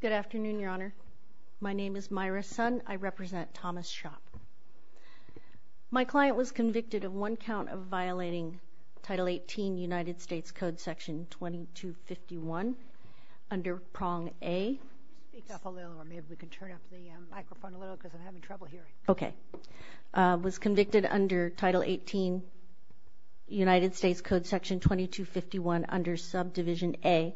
Good afternoon, Your Honor. My name is Myra Sun. I represent Thomas Schopp. My client was convicted of one count of violating Title 18 United States Code Section 2251 under Prong Subdivision A, was convicted under Title 18 United States Code Section 2251 under Subdivision A,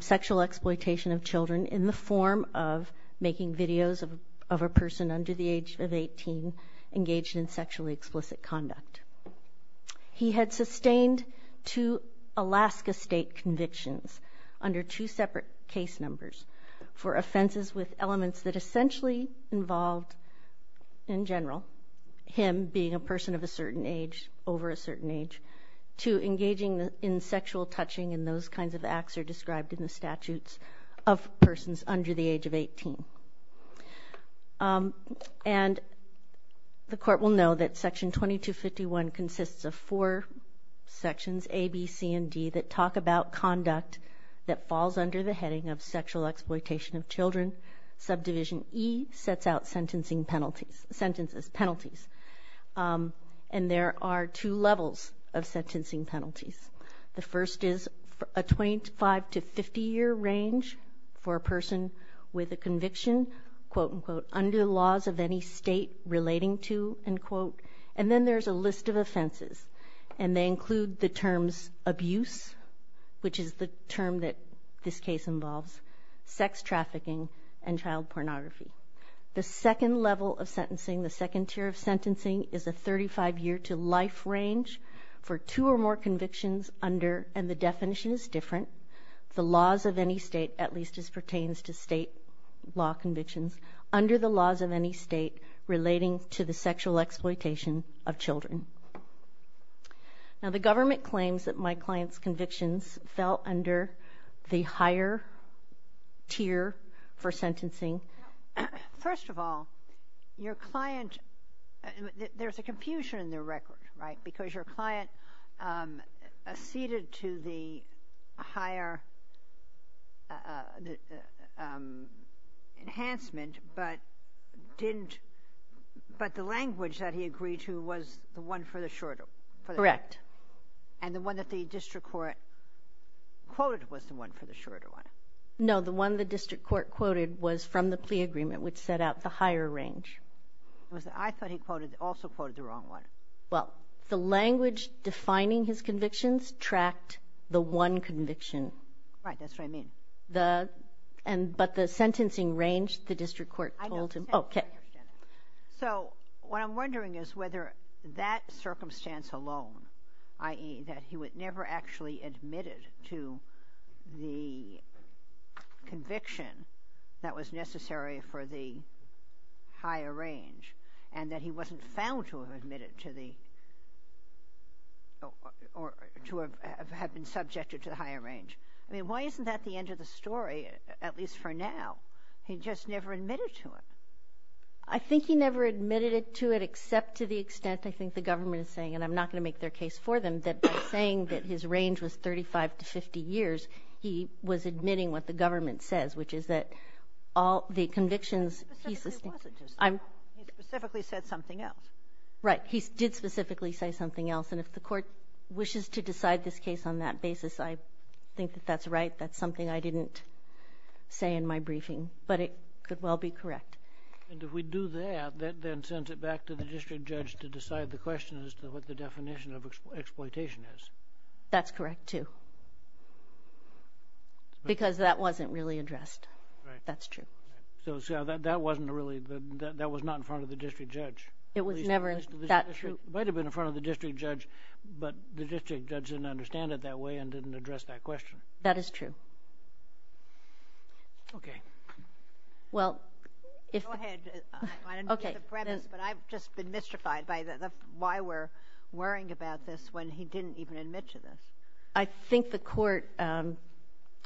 sexual exploitation of children in the form of making videos of a person under the age of 18 engaged in sexually explicit conduct. He had sustained two Alaska State convictions under two separate case numbers for offenses with elements that essentially involved, in general, him being a person of a certain age, over a certain age, to engaging in sexual touching and those kinds of acts are described in the statutes of persons under the age of 18. And the Court will know that Section 2251 consists of four sections, A, B, C, and D, that talk about conduct that falls under the heading of sexual exploitation of children. Subdivision E sets out sentencing penalties, sentences, penalties. And there are two levels of sentencing penalties. The first is a 25 to 50-year range for a person with a conviction quote, unquote, under the laws of any state relating to, unquote. And then there's a list of offenses. And they include the terms abuse, which is the term that this case involves, sex trafficking, and child pornography. The second level of sentencing, the second tier of sentencing, is a 35-year to life range for two or more convictions under, and the definition is different, the laws of any state, at least as pertains to state law convictions, under the laws of any state relating to the sexual exploitation of children. Now, the government claims that my client's convictions fell under the higher tier for sentencing. First of all, your client, there's a confusion in their record, right? Because your client acceded to the higher enhancement, but didn't, but the language that he agreed to was the one for the shorter. Correct. And the one that the district court quoted was the one for the shorter one. No, the one the district court quoted was from the plea agreement, which set out the higher range. I thought he quoted, also quoted the wrong one. Well, the language defining his convictions tracked the one conviction. Right, that's what I mean. The, and, but the sentencing range, the district court told him. Okay. So, what I'm wondering is whether that circumstance alone, i.e., that he would never actually admitted to the conviction that was necessary for the higher range, and that he wasn't found to have admitted to the, or to have been subjected to the higher range. I mean, why isn't that the end of the story, at least for now? He just never admitted to it. I think he never admitted it to it, except to the extent, I think the government is saying, and I'm not going to make their case for them, that by saying that his range was 35 to 50 years, he was admitting what the government says, which is that all the convictions. He specifically said something else. Right, he did specifically say something else, and if the court wishes to decide this case on that basis, I think that that's right. That's something I didn't say in my briefing, but it could well be correct. And if we do that, that then sends it back to the district judge to decide the question as to what the definition of exploitation is. That's correct, too, because that wasn't really addressed. That's true. So that wasn't really, that was not in front of the district judge. It was never that true. It might have been in front of the district judge, but the district judge didn't understand it that way and didn't address that question. That is true. Okay. Well, if... Go ahead. I don't know the premise, but I've just been mystified by why we're worrying about this when he didn't even admit to this. I think the court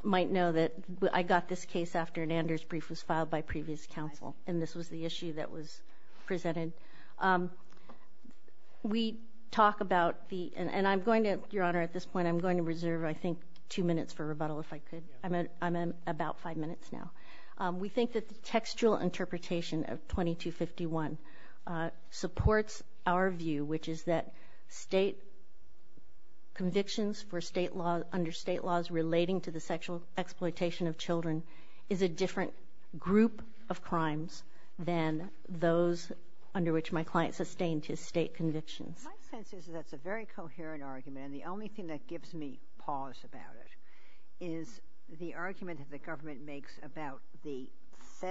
might know that I got this case after an Anders brief was filed by previous counsel, and this was the issue that was presented. We talk about the, and I'm going to, Your Honor, at this point, I'm going to reserve, I think, two minutes for rebuttal if I could. I'm about five minutes now. We think that the textual interpretation of 2251 supports our view, which is that state convictions for state law, under state laws relating to the sexual exploitation of children, is a different group of crimes than those under which my client sustained his state convictions. My sense is that that's a very coherent argument, and the only thing that gives me pause about it is that it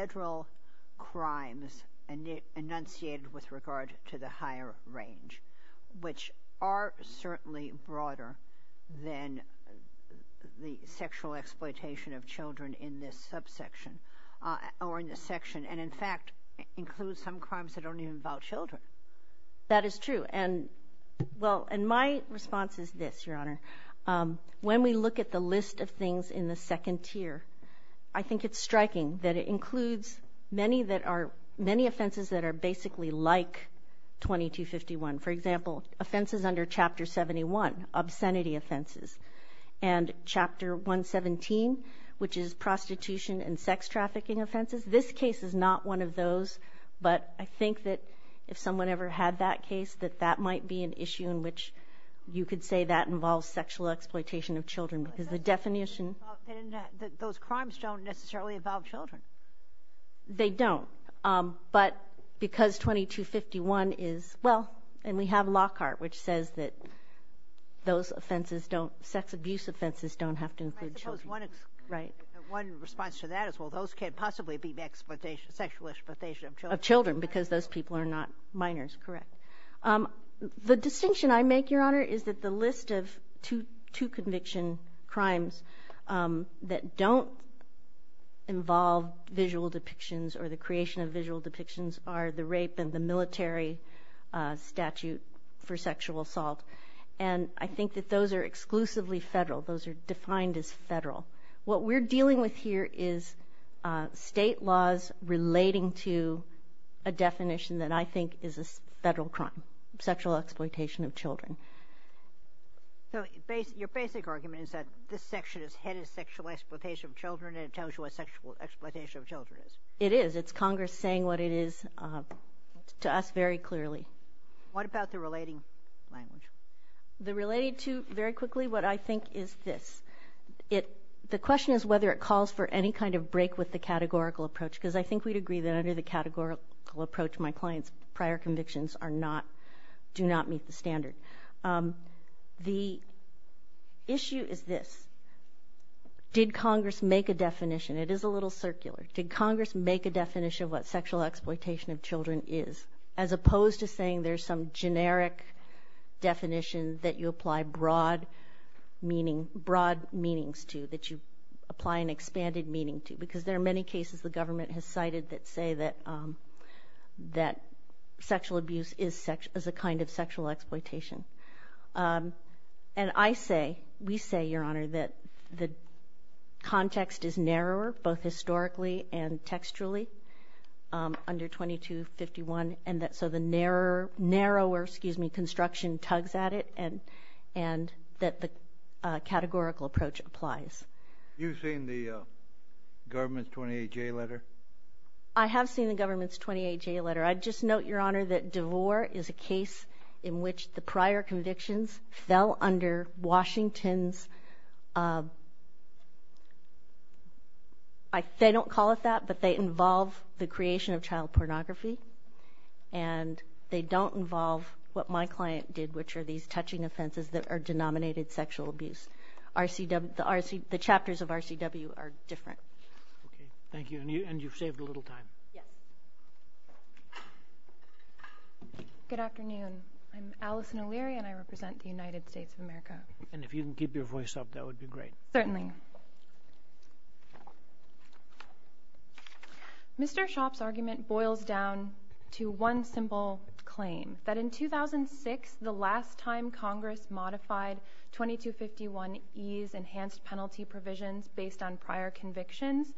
includes crimes enunciated with regard to the higher range, which are certainly broader than the sexual exploitation of children in this subsection, or in this section, and, in fact, includes some crimes that don't even involve children. That is true, and, well, and my response is this, Your Honor. When we look at the list of things in the second tier, I think it's many that are, many offenses that are basically like 2251. For example, offenses under Chapter 71, obscenity offenses, and Chapter 117, which is prostitution and sex trafficking offenses. This case is not one of those, but I think that if someone ever had that case, that that might be an issue in which you could say that involves sexual exploitation of children, because the definition Those crimes don't necessarily involve children. They don't, but because 2251 is, well, and we have Lockhart, which says that those offenses don't, sex abuse offenses don't have to include children. Right. One response to that is, well, those can't possibly be sexual exploitation of children. Of children, because those people are not minors, correct. The distinction I make, Your Honor, is that the list of two conviction crimes that don't involve visual depictions or the creation of visual depictions are the rape and the military statute for sexual assault, and I think that those are exclusively federal. Those are defined as federal. What we're dealing with here is state laws relating to a definition that I think is a federal crime, sexual exploitation of children. So your basic argument is that this section is headed sexual exploitation of children, and it tells you what sexual exploitation of children is. It is. It's Congress saying what it is to us very clearly. What about the relating language? The relating to, very quickly, what I think is this. The question is whether it calls for any kind of break with the categorical approach, because I think we'd agree that under the categorical approach, my client's the standard. The issue is this. Did Congress make a definition? It is a little circular. Did Congress make a definition of what sexual exploitation of children is, as opposed to saying there's some generic definition that you apply broad meanings to, that you apply an expanded meaning to, because there are many cases the government has cited that say that sexual abuse is a kind of sexual exploitation. And I say, we say, Your Honor, that the context is narrower, both historically and textually, under 2251. So the narrower construction tugs at it, and that the categorical approach applies. You've seen the government's 28-J letter? I have seen the government's 28-J letter. I'd just note, Your Honor, that DeVore is a case in which the prior convictions fell under Washington's, they don't call it that, but they involve the creation of child pornography, and they don't involve what my client did, which are these touching offenses that are of RCW are different. Okay. Thank you. And you've saved a little time. Yes. Good afternoon. I'm Allison O'Leary, and I represent the United States of America. And if you can keep your voice up, that would be great. Certainly. Mr. Schaub's argument boils down to one simple claim, that in 2006, the last time Congress modified 2251E's enhanced penalty provisions based on prior convictions,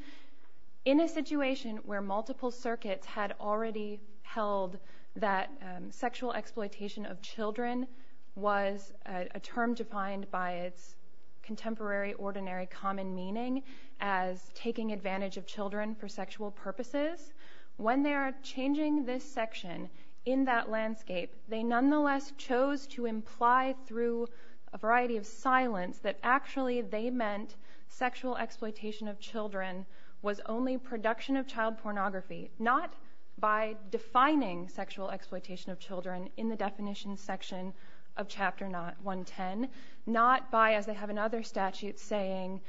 in a situation where multiple circuits had already held that sexual exploitation of children was a term defined by its contemporary ordinary common meaning as taking advantage of children for sexual purposes. When they are changing this section in that landscape, they nonetheless chose to imply through a variety of silence that actually they meant sexual exploitation of children was only production of child pornography, not by defining sexual exploitation of children in the definition section of Chapter 110, not by, as they have in other statutes saying,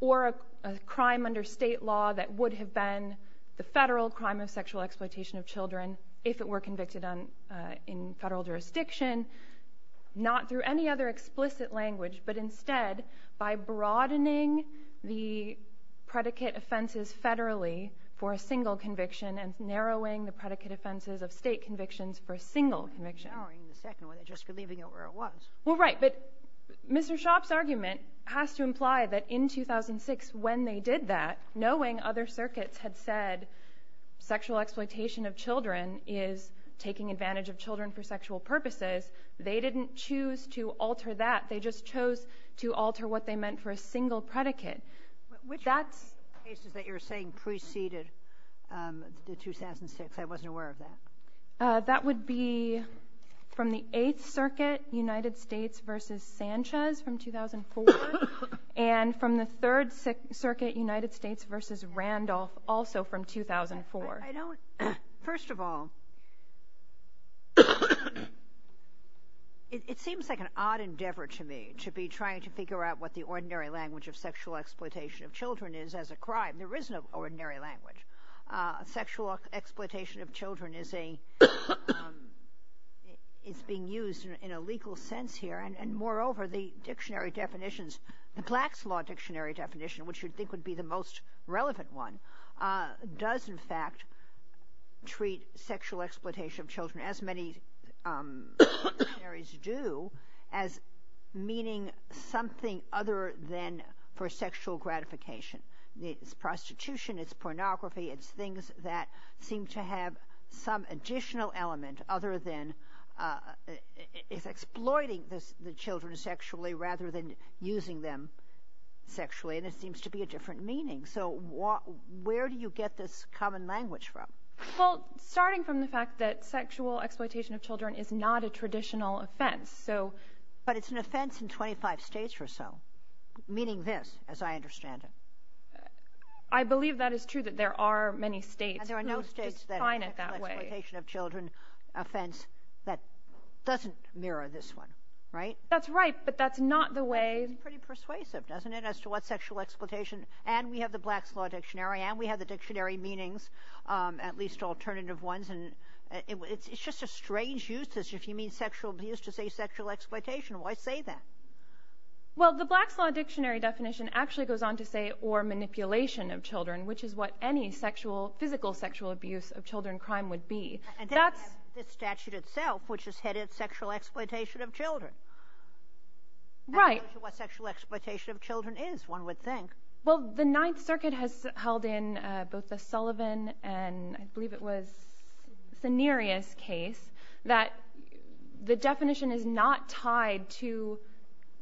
or a crime under state law that would have been the federal crime of sexual exploitation of children if it were convicted in federal jurisdiction, not through any other explicit language, but instead by broadening the predicate offenses federally for a single conviction and narrowing the predicate offenses of state convictions for a single conviction. Narrowing the second one and just leaving it where it was. Well, right. But Mr. Schaub's argument has to imply that in 2006, when they did that, knowing other circuits had said sexual exploitation of children is taking advantage of children for sexual purposes, they didn't choose to alter that. They just chose to alter what they meant for a single predicate. Which cases that you're saying preceded the 2006? I wasn't aware of that. That would be from the 8th Circuit, United States v. Sanchez from 2004, and from the 3rd Circuit, United States v. Randolph, also from 2004. I don't, first of all, it seems like an odd endeavor to me to be trying to figure out what the ordinary language of sexual exploitation of children is as a crime. There is no ordinary language. Sexual exploitation of children is a, is being used in a legal sense here, and moreover, the dictionary definitions, the Plaques Law Dictionary definition, which you'd think would be the most relevant one, does in fact treat sexual exploitation of children, as many dictionaries do, as meaning something other than for sexual gratification. It's prostitution, it's pornography, it's things that seem to have some additional element other than, it's exploiting the children sexually rather than using them sexually, and it seems to be a different meaning. So where do you get this common language from? Well, starting from the fact that sexual exploitation of children is not a traditional offense, so. But it's an offense in 25 states or so, meaning this, as I understand it. I believe that is true, that there are many states who define it that way. And there are no states that have an exploitation of children offense that doesn't mirror this one, right? That's right, but that's not the way. It's pretty persuasive, doesn't it, as to what sexual exploitation, and we have the Plaques Law Dictionary, and we have the dictionary meanings, at least alternative ones, and it's just a strange use, if you mean sexual abuse, to say sexual exploitation. Why say that? Well, the Plaques Law Dictionary definition actually goes on to say, or manipulation of children, which is what any sexual, physical sexual abuse of children crime would be. And then you have the statute itself, which is headed sexual exploitation of children. Right. What sexual exploitation of children is, one would think. Well, the Ninth Circuit has held in both the Sullivan and I believe it was Sanerius case, that the definition is not tied to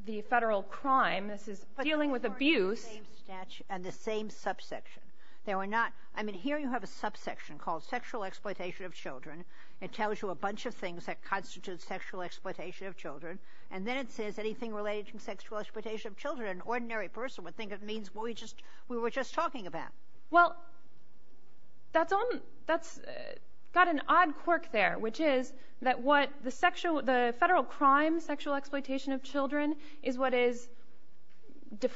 the federal crime. This is dealing with abuse. And the same subsection. There were not, I mean, here you have a subsection called sexual exploitation of children. It tells you a bunch of things that constitute sexual exploitation of children, and then it says anything related to sexual exploitation of children. An ordinary person would think it means what we were just talking about. Well, that's got an odd quirk there, which is that what the federal crime, sexual exploitation of children, is what is the,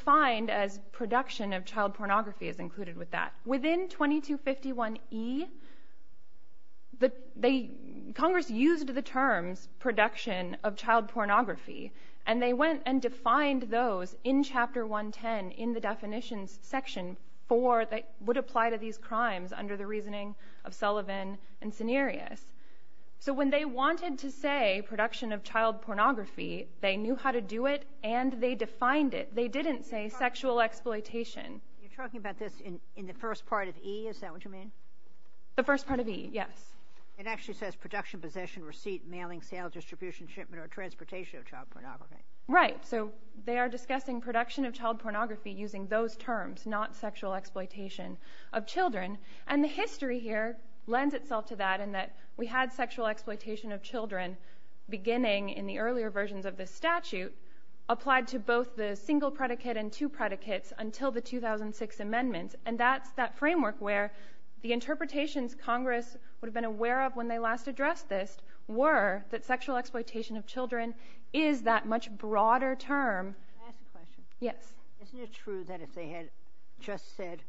they, Congress used the terms production of child pornography, and they went and defined those in Chapter 110 in the definitions section for that would apply to these crimes under the reasoning of Sullivan and Sanerius. So when they wanted to say production of child pornography, they knew how to do it and they defined it. They didn't say sexual exploitation. You're talking about this in the first part of E, is that what you mean? The first part of E, yes. It actually says production, possession, receipt, mailing, sale, distribution, shipment, or transportation of child pornography. Right, so they are discussing production of child pornography using those terms, not sexual exploitation of children. And the history here lends itself to that in that we had sexual exploitation of children beginning in the earlier versions of this statute applied to the single predicate and two predicates until the 2006 amendments. And that's that framework where the interpretations Congress would have been aware of when they last addressed this were that sexual exploitation of children is that much broader term. Can I ask a question? Yes. Isn't it true that if they had just said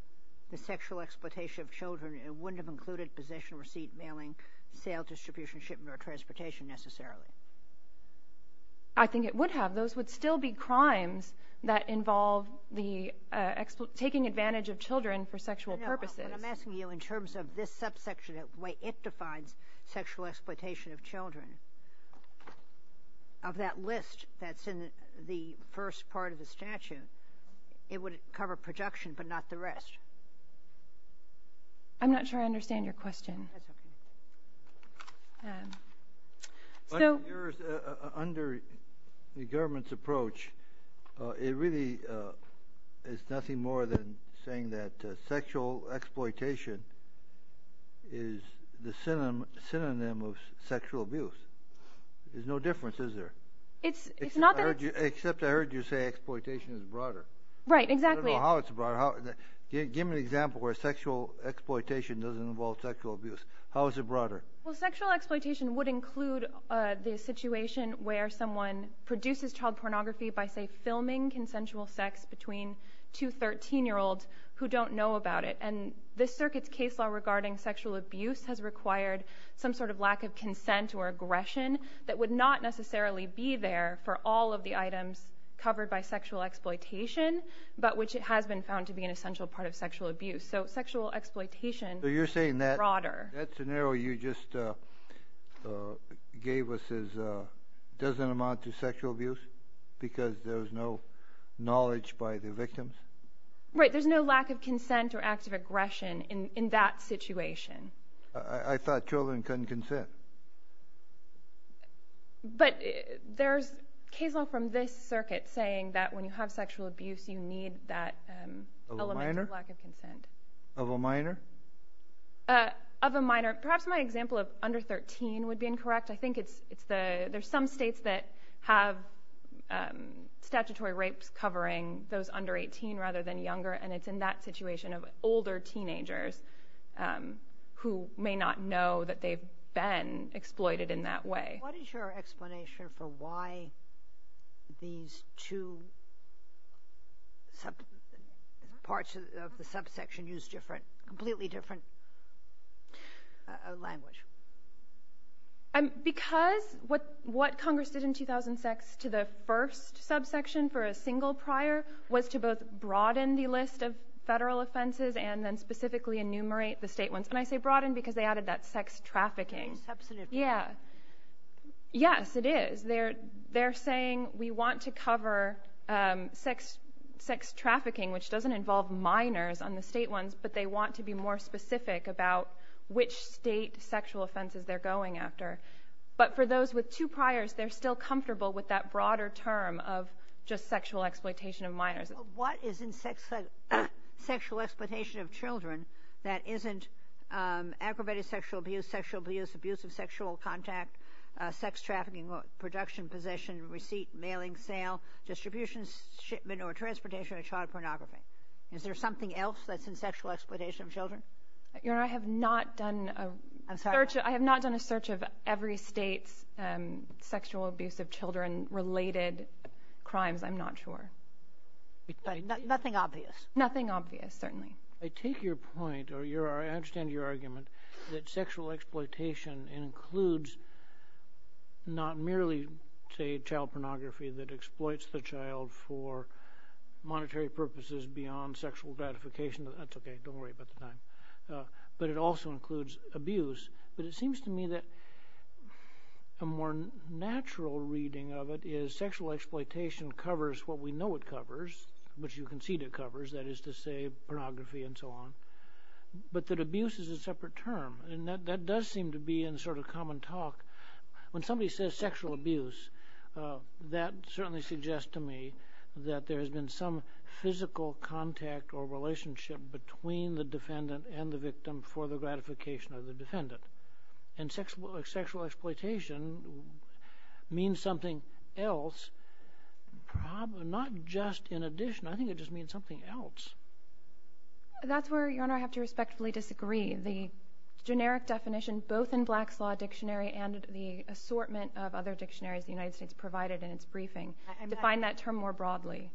the sexual exploitation of children, it wouldn't have included possession, receipt, mailing, sale, distribution, shipment, or transportation necessarily? I think it would have. Those would still be crimes that involve taking advantage of children for sexual purposes. I'm asking you in terms of this subsection, the way it defines sexual exploitation of children, of that list that's in the first part of the statute, it would cover production but not the rest. I'm not sure I understand your question. Under the government's approach, it really is nothing more than saying that sexual exploitation is the synonym of sexual abuse. There's no difference, is there? Except I heard you say exploitation is broader. Right, exactly. I don't know how it's broader. Give me an example where sexual exploitation doesn't involve sexual abuse. How is it broader? Well sexual exploitation would include the situation where someone produces child pornography by, say, filming consensual sex between two 13-year-olds who don't know about it. And this circuit's case law regarding sexual abuse has required some sort of lack of consent or aggression that would not necessarily be there for all of the items covered by sexual exploitation, but which it has been found to be an essential part of sexual abuse. It doesn't amount to sexual abuse because there's no knowledge by the victims? Right, there's no lack of consent or active aggression in that situation. I thought children couldn't consent. But there's case law from this circuit saying that when you have sexual abuse, you need that element of lack of consent. Of a minor? Of a minor. Perhaps my example of under 13 would be incorrect. I think there's some states that have statutory rapes covering those under 18 rather than younger, and it's in that situation of older teenagers who may not know that they've been exploited in that way. What is your explanation for why these two parts of the subsection use completely different language? Because what Congress did in 2006 to the first subsection for a single prior was to both broaden the list of federal offenses and then specifically enumerate the state ones. And I say broaden because they added that sex trafficking. Yes, it is. They're saying we want to cover sex trafficking, which doesn't involve minors on the state ones, but they want to be more specific about which state sexual offenses they're going after. But for those with two priors, they're still comfortable with that broader term of just sexual exploitation of minors. What is in sexual exploitation of children that isn't aggravated sexual abuse, sexual abuse, abuse of sexual contact, sex trafficking, production, possession, receipt, mailing, sale, distribution, shipment, or transportation of child pornography? Is there something else that's in sexual exploitation of children? Your Honor, I have not done a search of every state's sexual abuse of children-related crimes. I'm not sure. Nothing obvious? Nothing obvious, certainly. I take your point, or I understand your argument, that sexual exploitation includes not merely, say, child pornography that exploits the child for monetary purposes beyond sexual gratification. That's okay. Don't worry about the time. But it also includes abuse. But it seems to me that a more natural reading of it is sexual exploitation covers what we know it covers, which you concede it covers, that is to say, pornography and so on, but that abuse is a separate term. And that does seem to be in sort of common talk. When somebody says sexual abuse, that certainly suggests to me that there has been some physical contact or relationship between the sexual exploitation, means something else, not just in addition. I think it just means something else. That's where, Your Honor, I have to respectfully disagree. The generic definition, both in Black's Law Dictionary and the assortment of other dictionaries the United States provided in its briefing, define that term more broadly.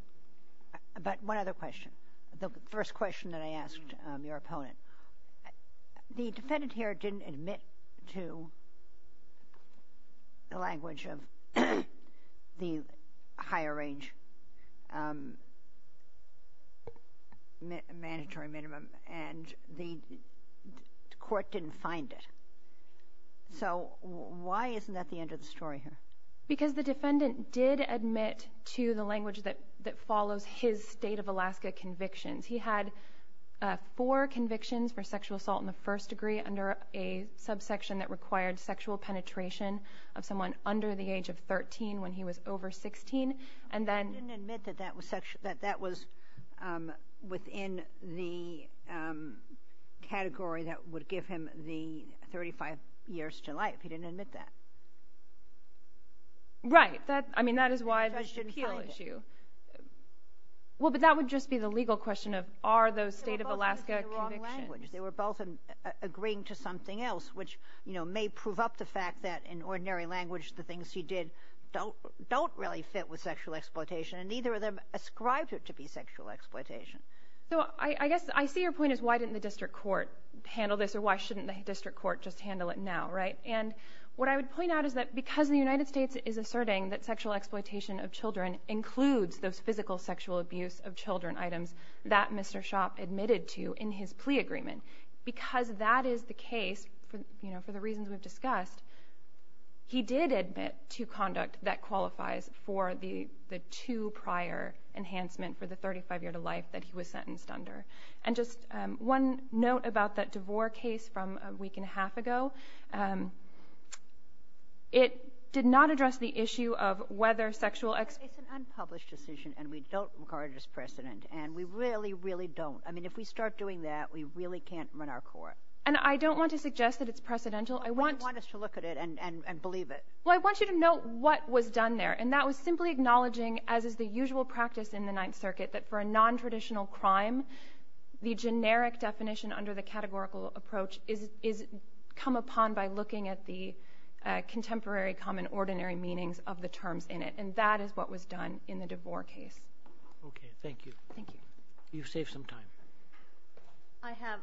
But one other question. The first question that I was going to ask is, the defendant admitted to the language of the higher range mandatory minimum, and the court didn't find it. So why isn't that the end of the story here? Because the defendant did admit to the language that follows his state of Alaska convictions. He had four convictions for sexual assault in the first degree under a subsection that required sexual penetration of someone under the age of 13 when he was over 16. He didn't admit that that was within the category that would give him the 35 years to life. He didn't admit that. Right. I mean, that is why the judge didn't find it. Well, but that would just be the legal question of, are those state of Alaska convictions? They were both agreeing to something else, which, you know, may prove up the fact that, in ordinary language, the things he did don't really fit with sexual exploitation, and neither of them ascribed it to be sexual exploitation. So I guess I see your point is, why didn't the district court handle this, or why shouldn't the district court just handle it now, right? And what I would point out is that because the United States is asserting that sexual exploitation of children includes those physical sexual abuse of children items that Mr. Schopp admitted to in his plea agreement, because that is the case, you know, for the reasons we've discussed, he did admit to conduct that qualifies for the two prior enhancement for the 35 year to life that he was sentenced under. And just one note about that a week and a half ago, it did not address the issue of whether sexual exploitation... It's an unpublished decision, and we don't regard it as precedent, and we really, really don't. I mean, if we start doing that, we really can't run our court. And I don't want to suggest that it's precedential. You don't want us to look at it and believe it. Well, I want you to note what was done there, and that was simply acknowledging, as is the usual practice in the Ninth Circuit, that for a non-traditional crime, the generic definition under the categorical approach is come upon by looking at the contemporary common ordinary meanings of the terms in it. And that is what was done in the DeVore case. Okay, thank you. Thank you. You've saved some time. I have.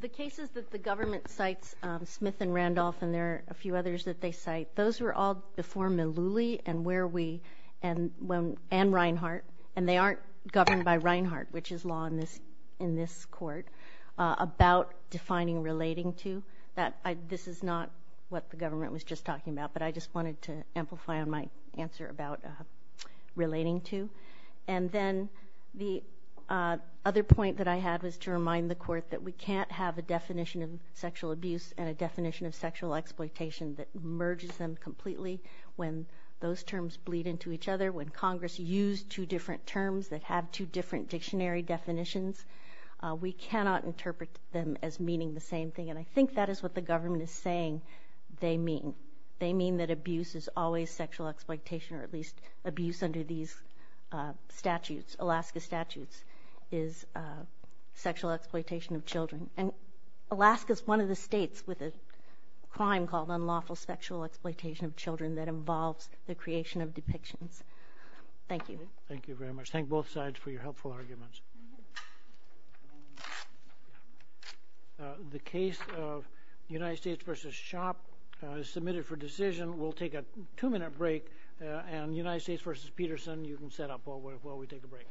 The cases that the government cites, Smith and Randolph, and there are a few others that they cite, those were all before Millouly and where we, and when, and Reinhart, and they in this court, about defining relating to. That this is not what the government was just talking about, but I just wanted to amplify on my answer about relating to. And then the other point that I had was to remind the court that we can't have a definition of sexual abuse and a definition of sexual exploitation that merges them completely when those terms bleed into each other. When Congress used two different terms that have two different dictionary definitions, we cannot interpret them as meaning the same thing. And I think that is what the government is saying they mean. They mean that abuse is always sexual exploitation, or at least abuse under these statutes, Alaska statutes, is sexual exploitation of children. And Alaska is one of the states with a crime called unlawful sexual exploitation of children that involves the creation of depictions. Thank you. Thank you very much. Thank both sides for your helpful arguments. The case of United States v. Shoppe is submitted for decision. We'll take a two-minute break, and United States v. Peterson, you can set up while we take a break. Thank you.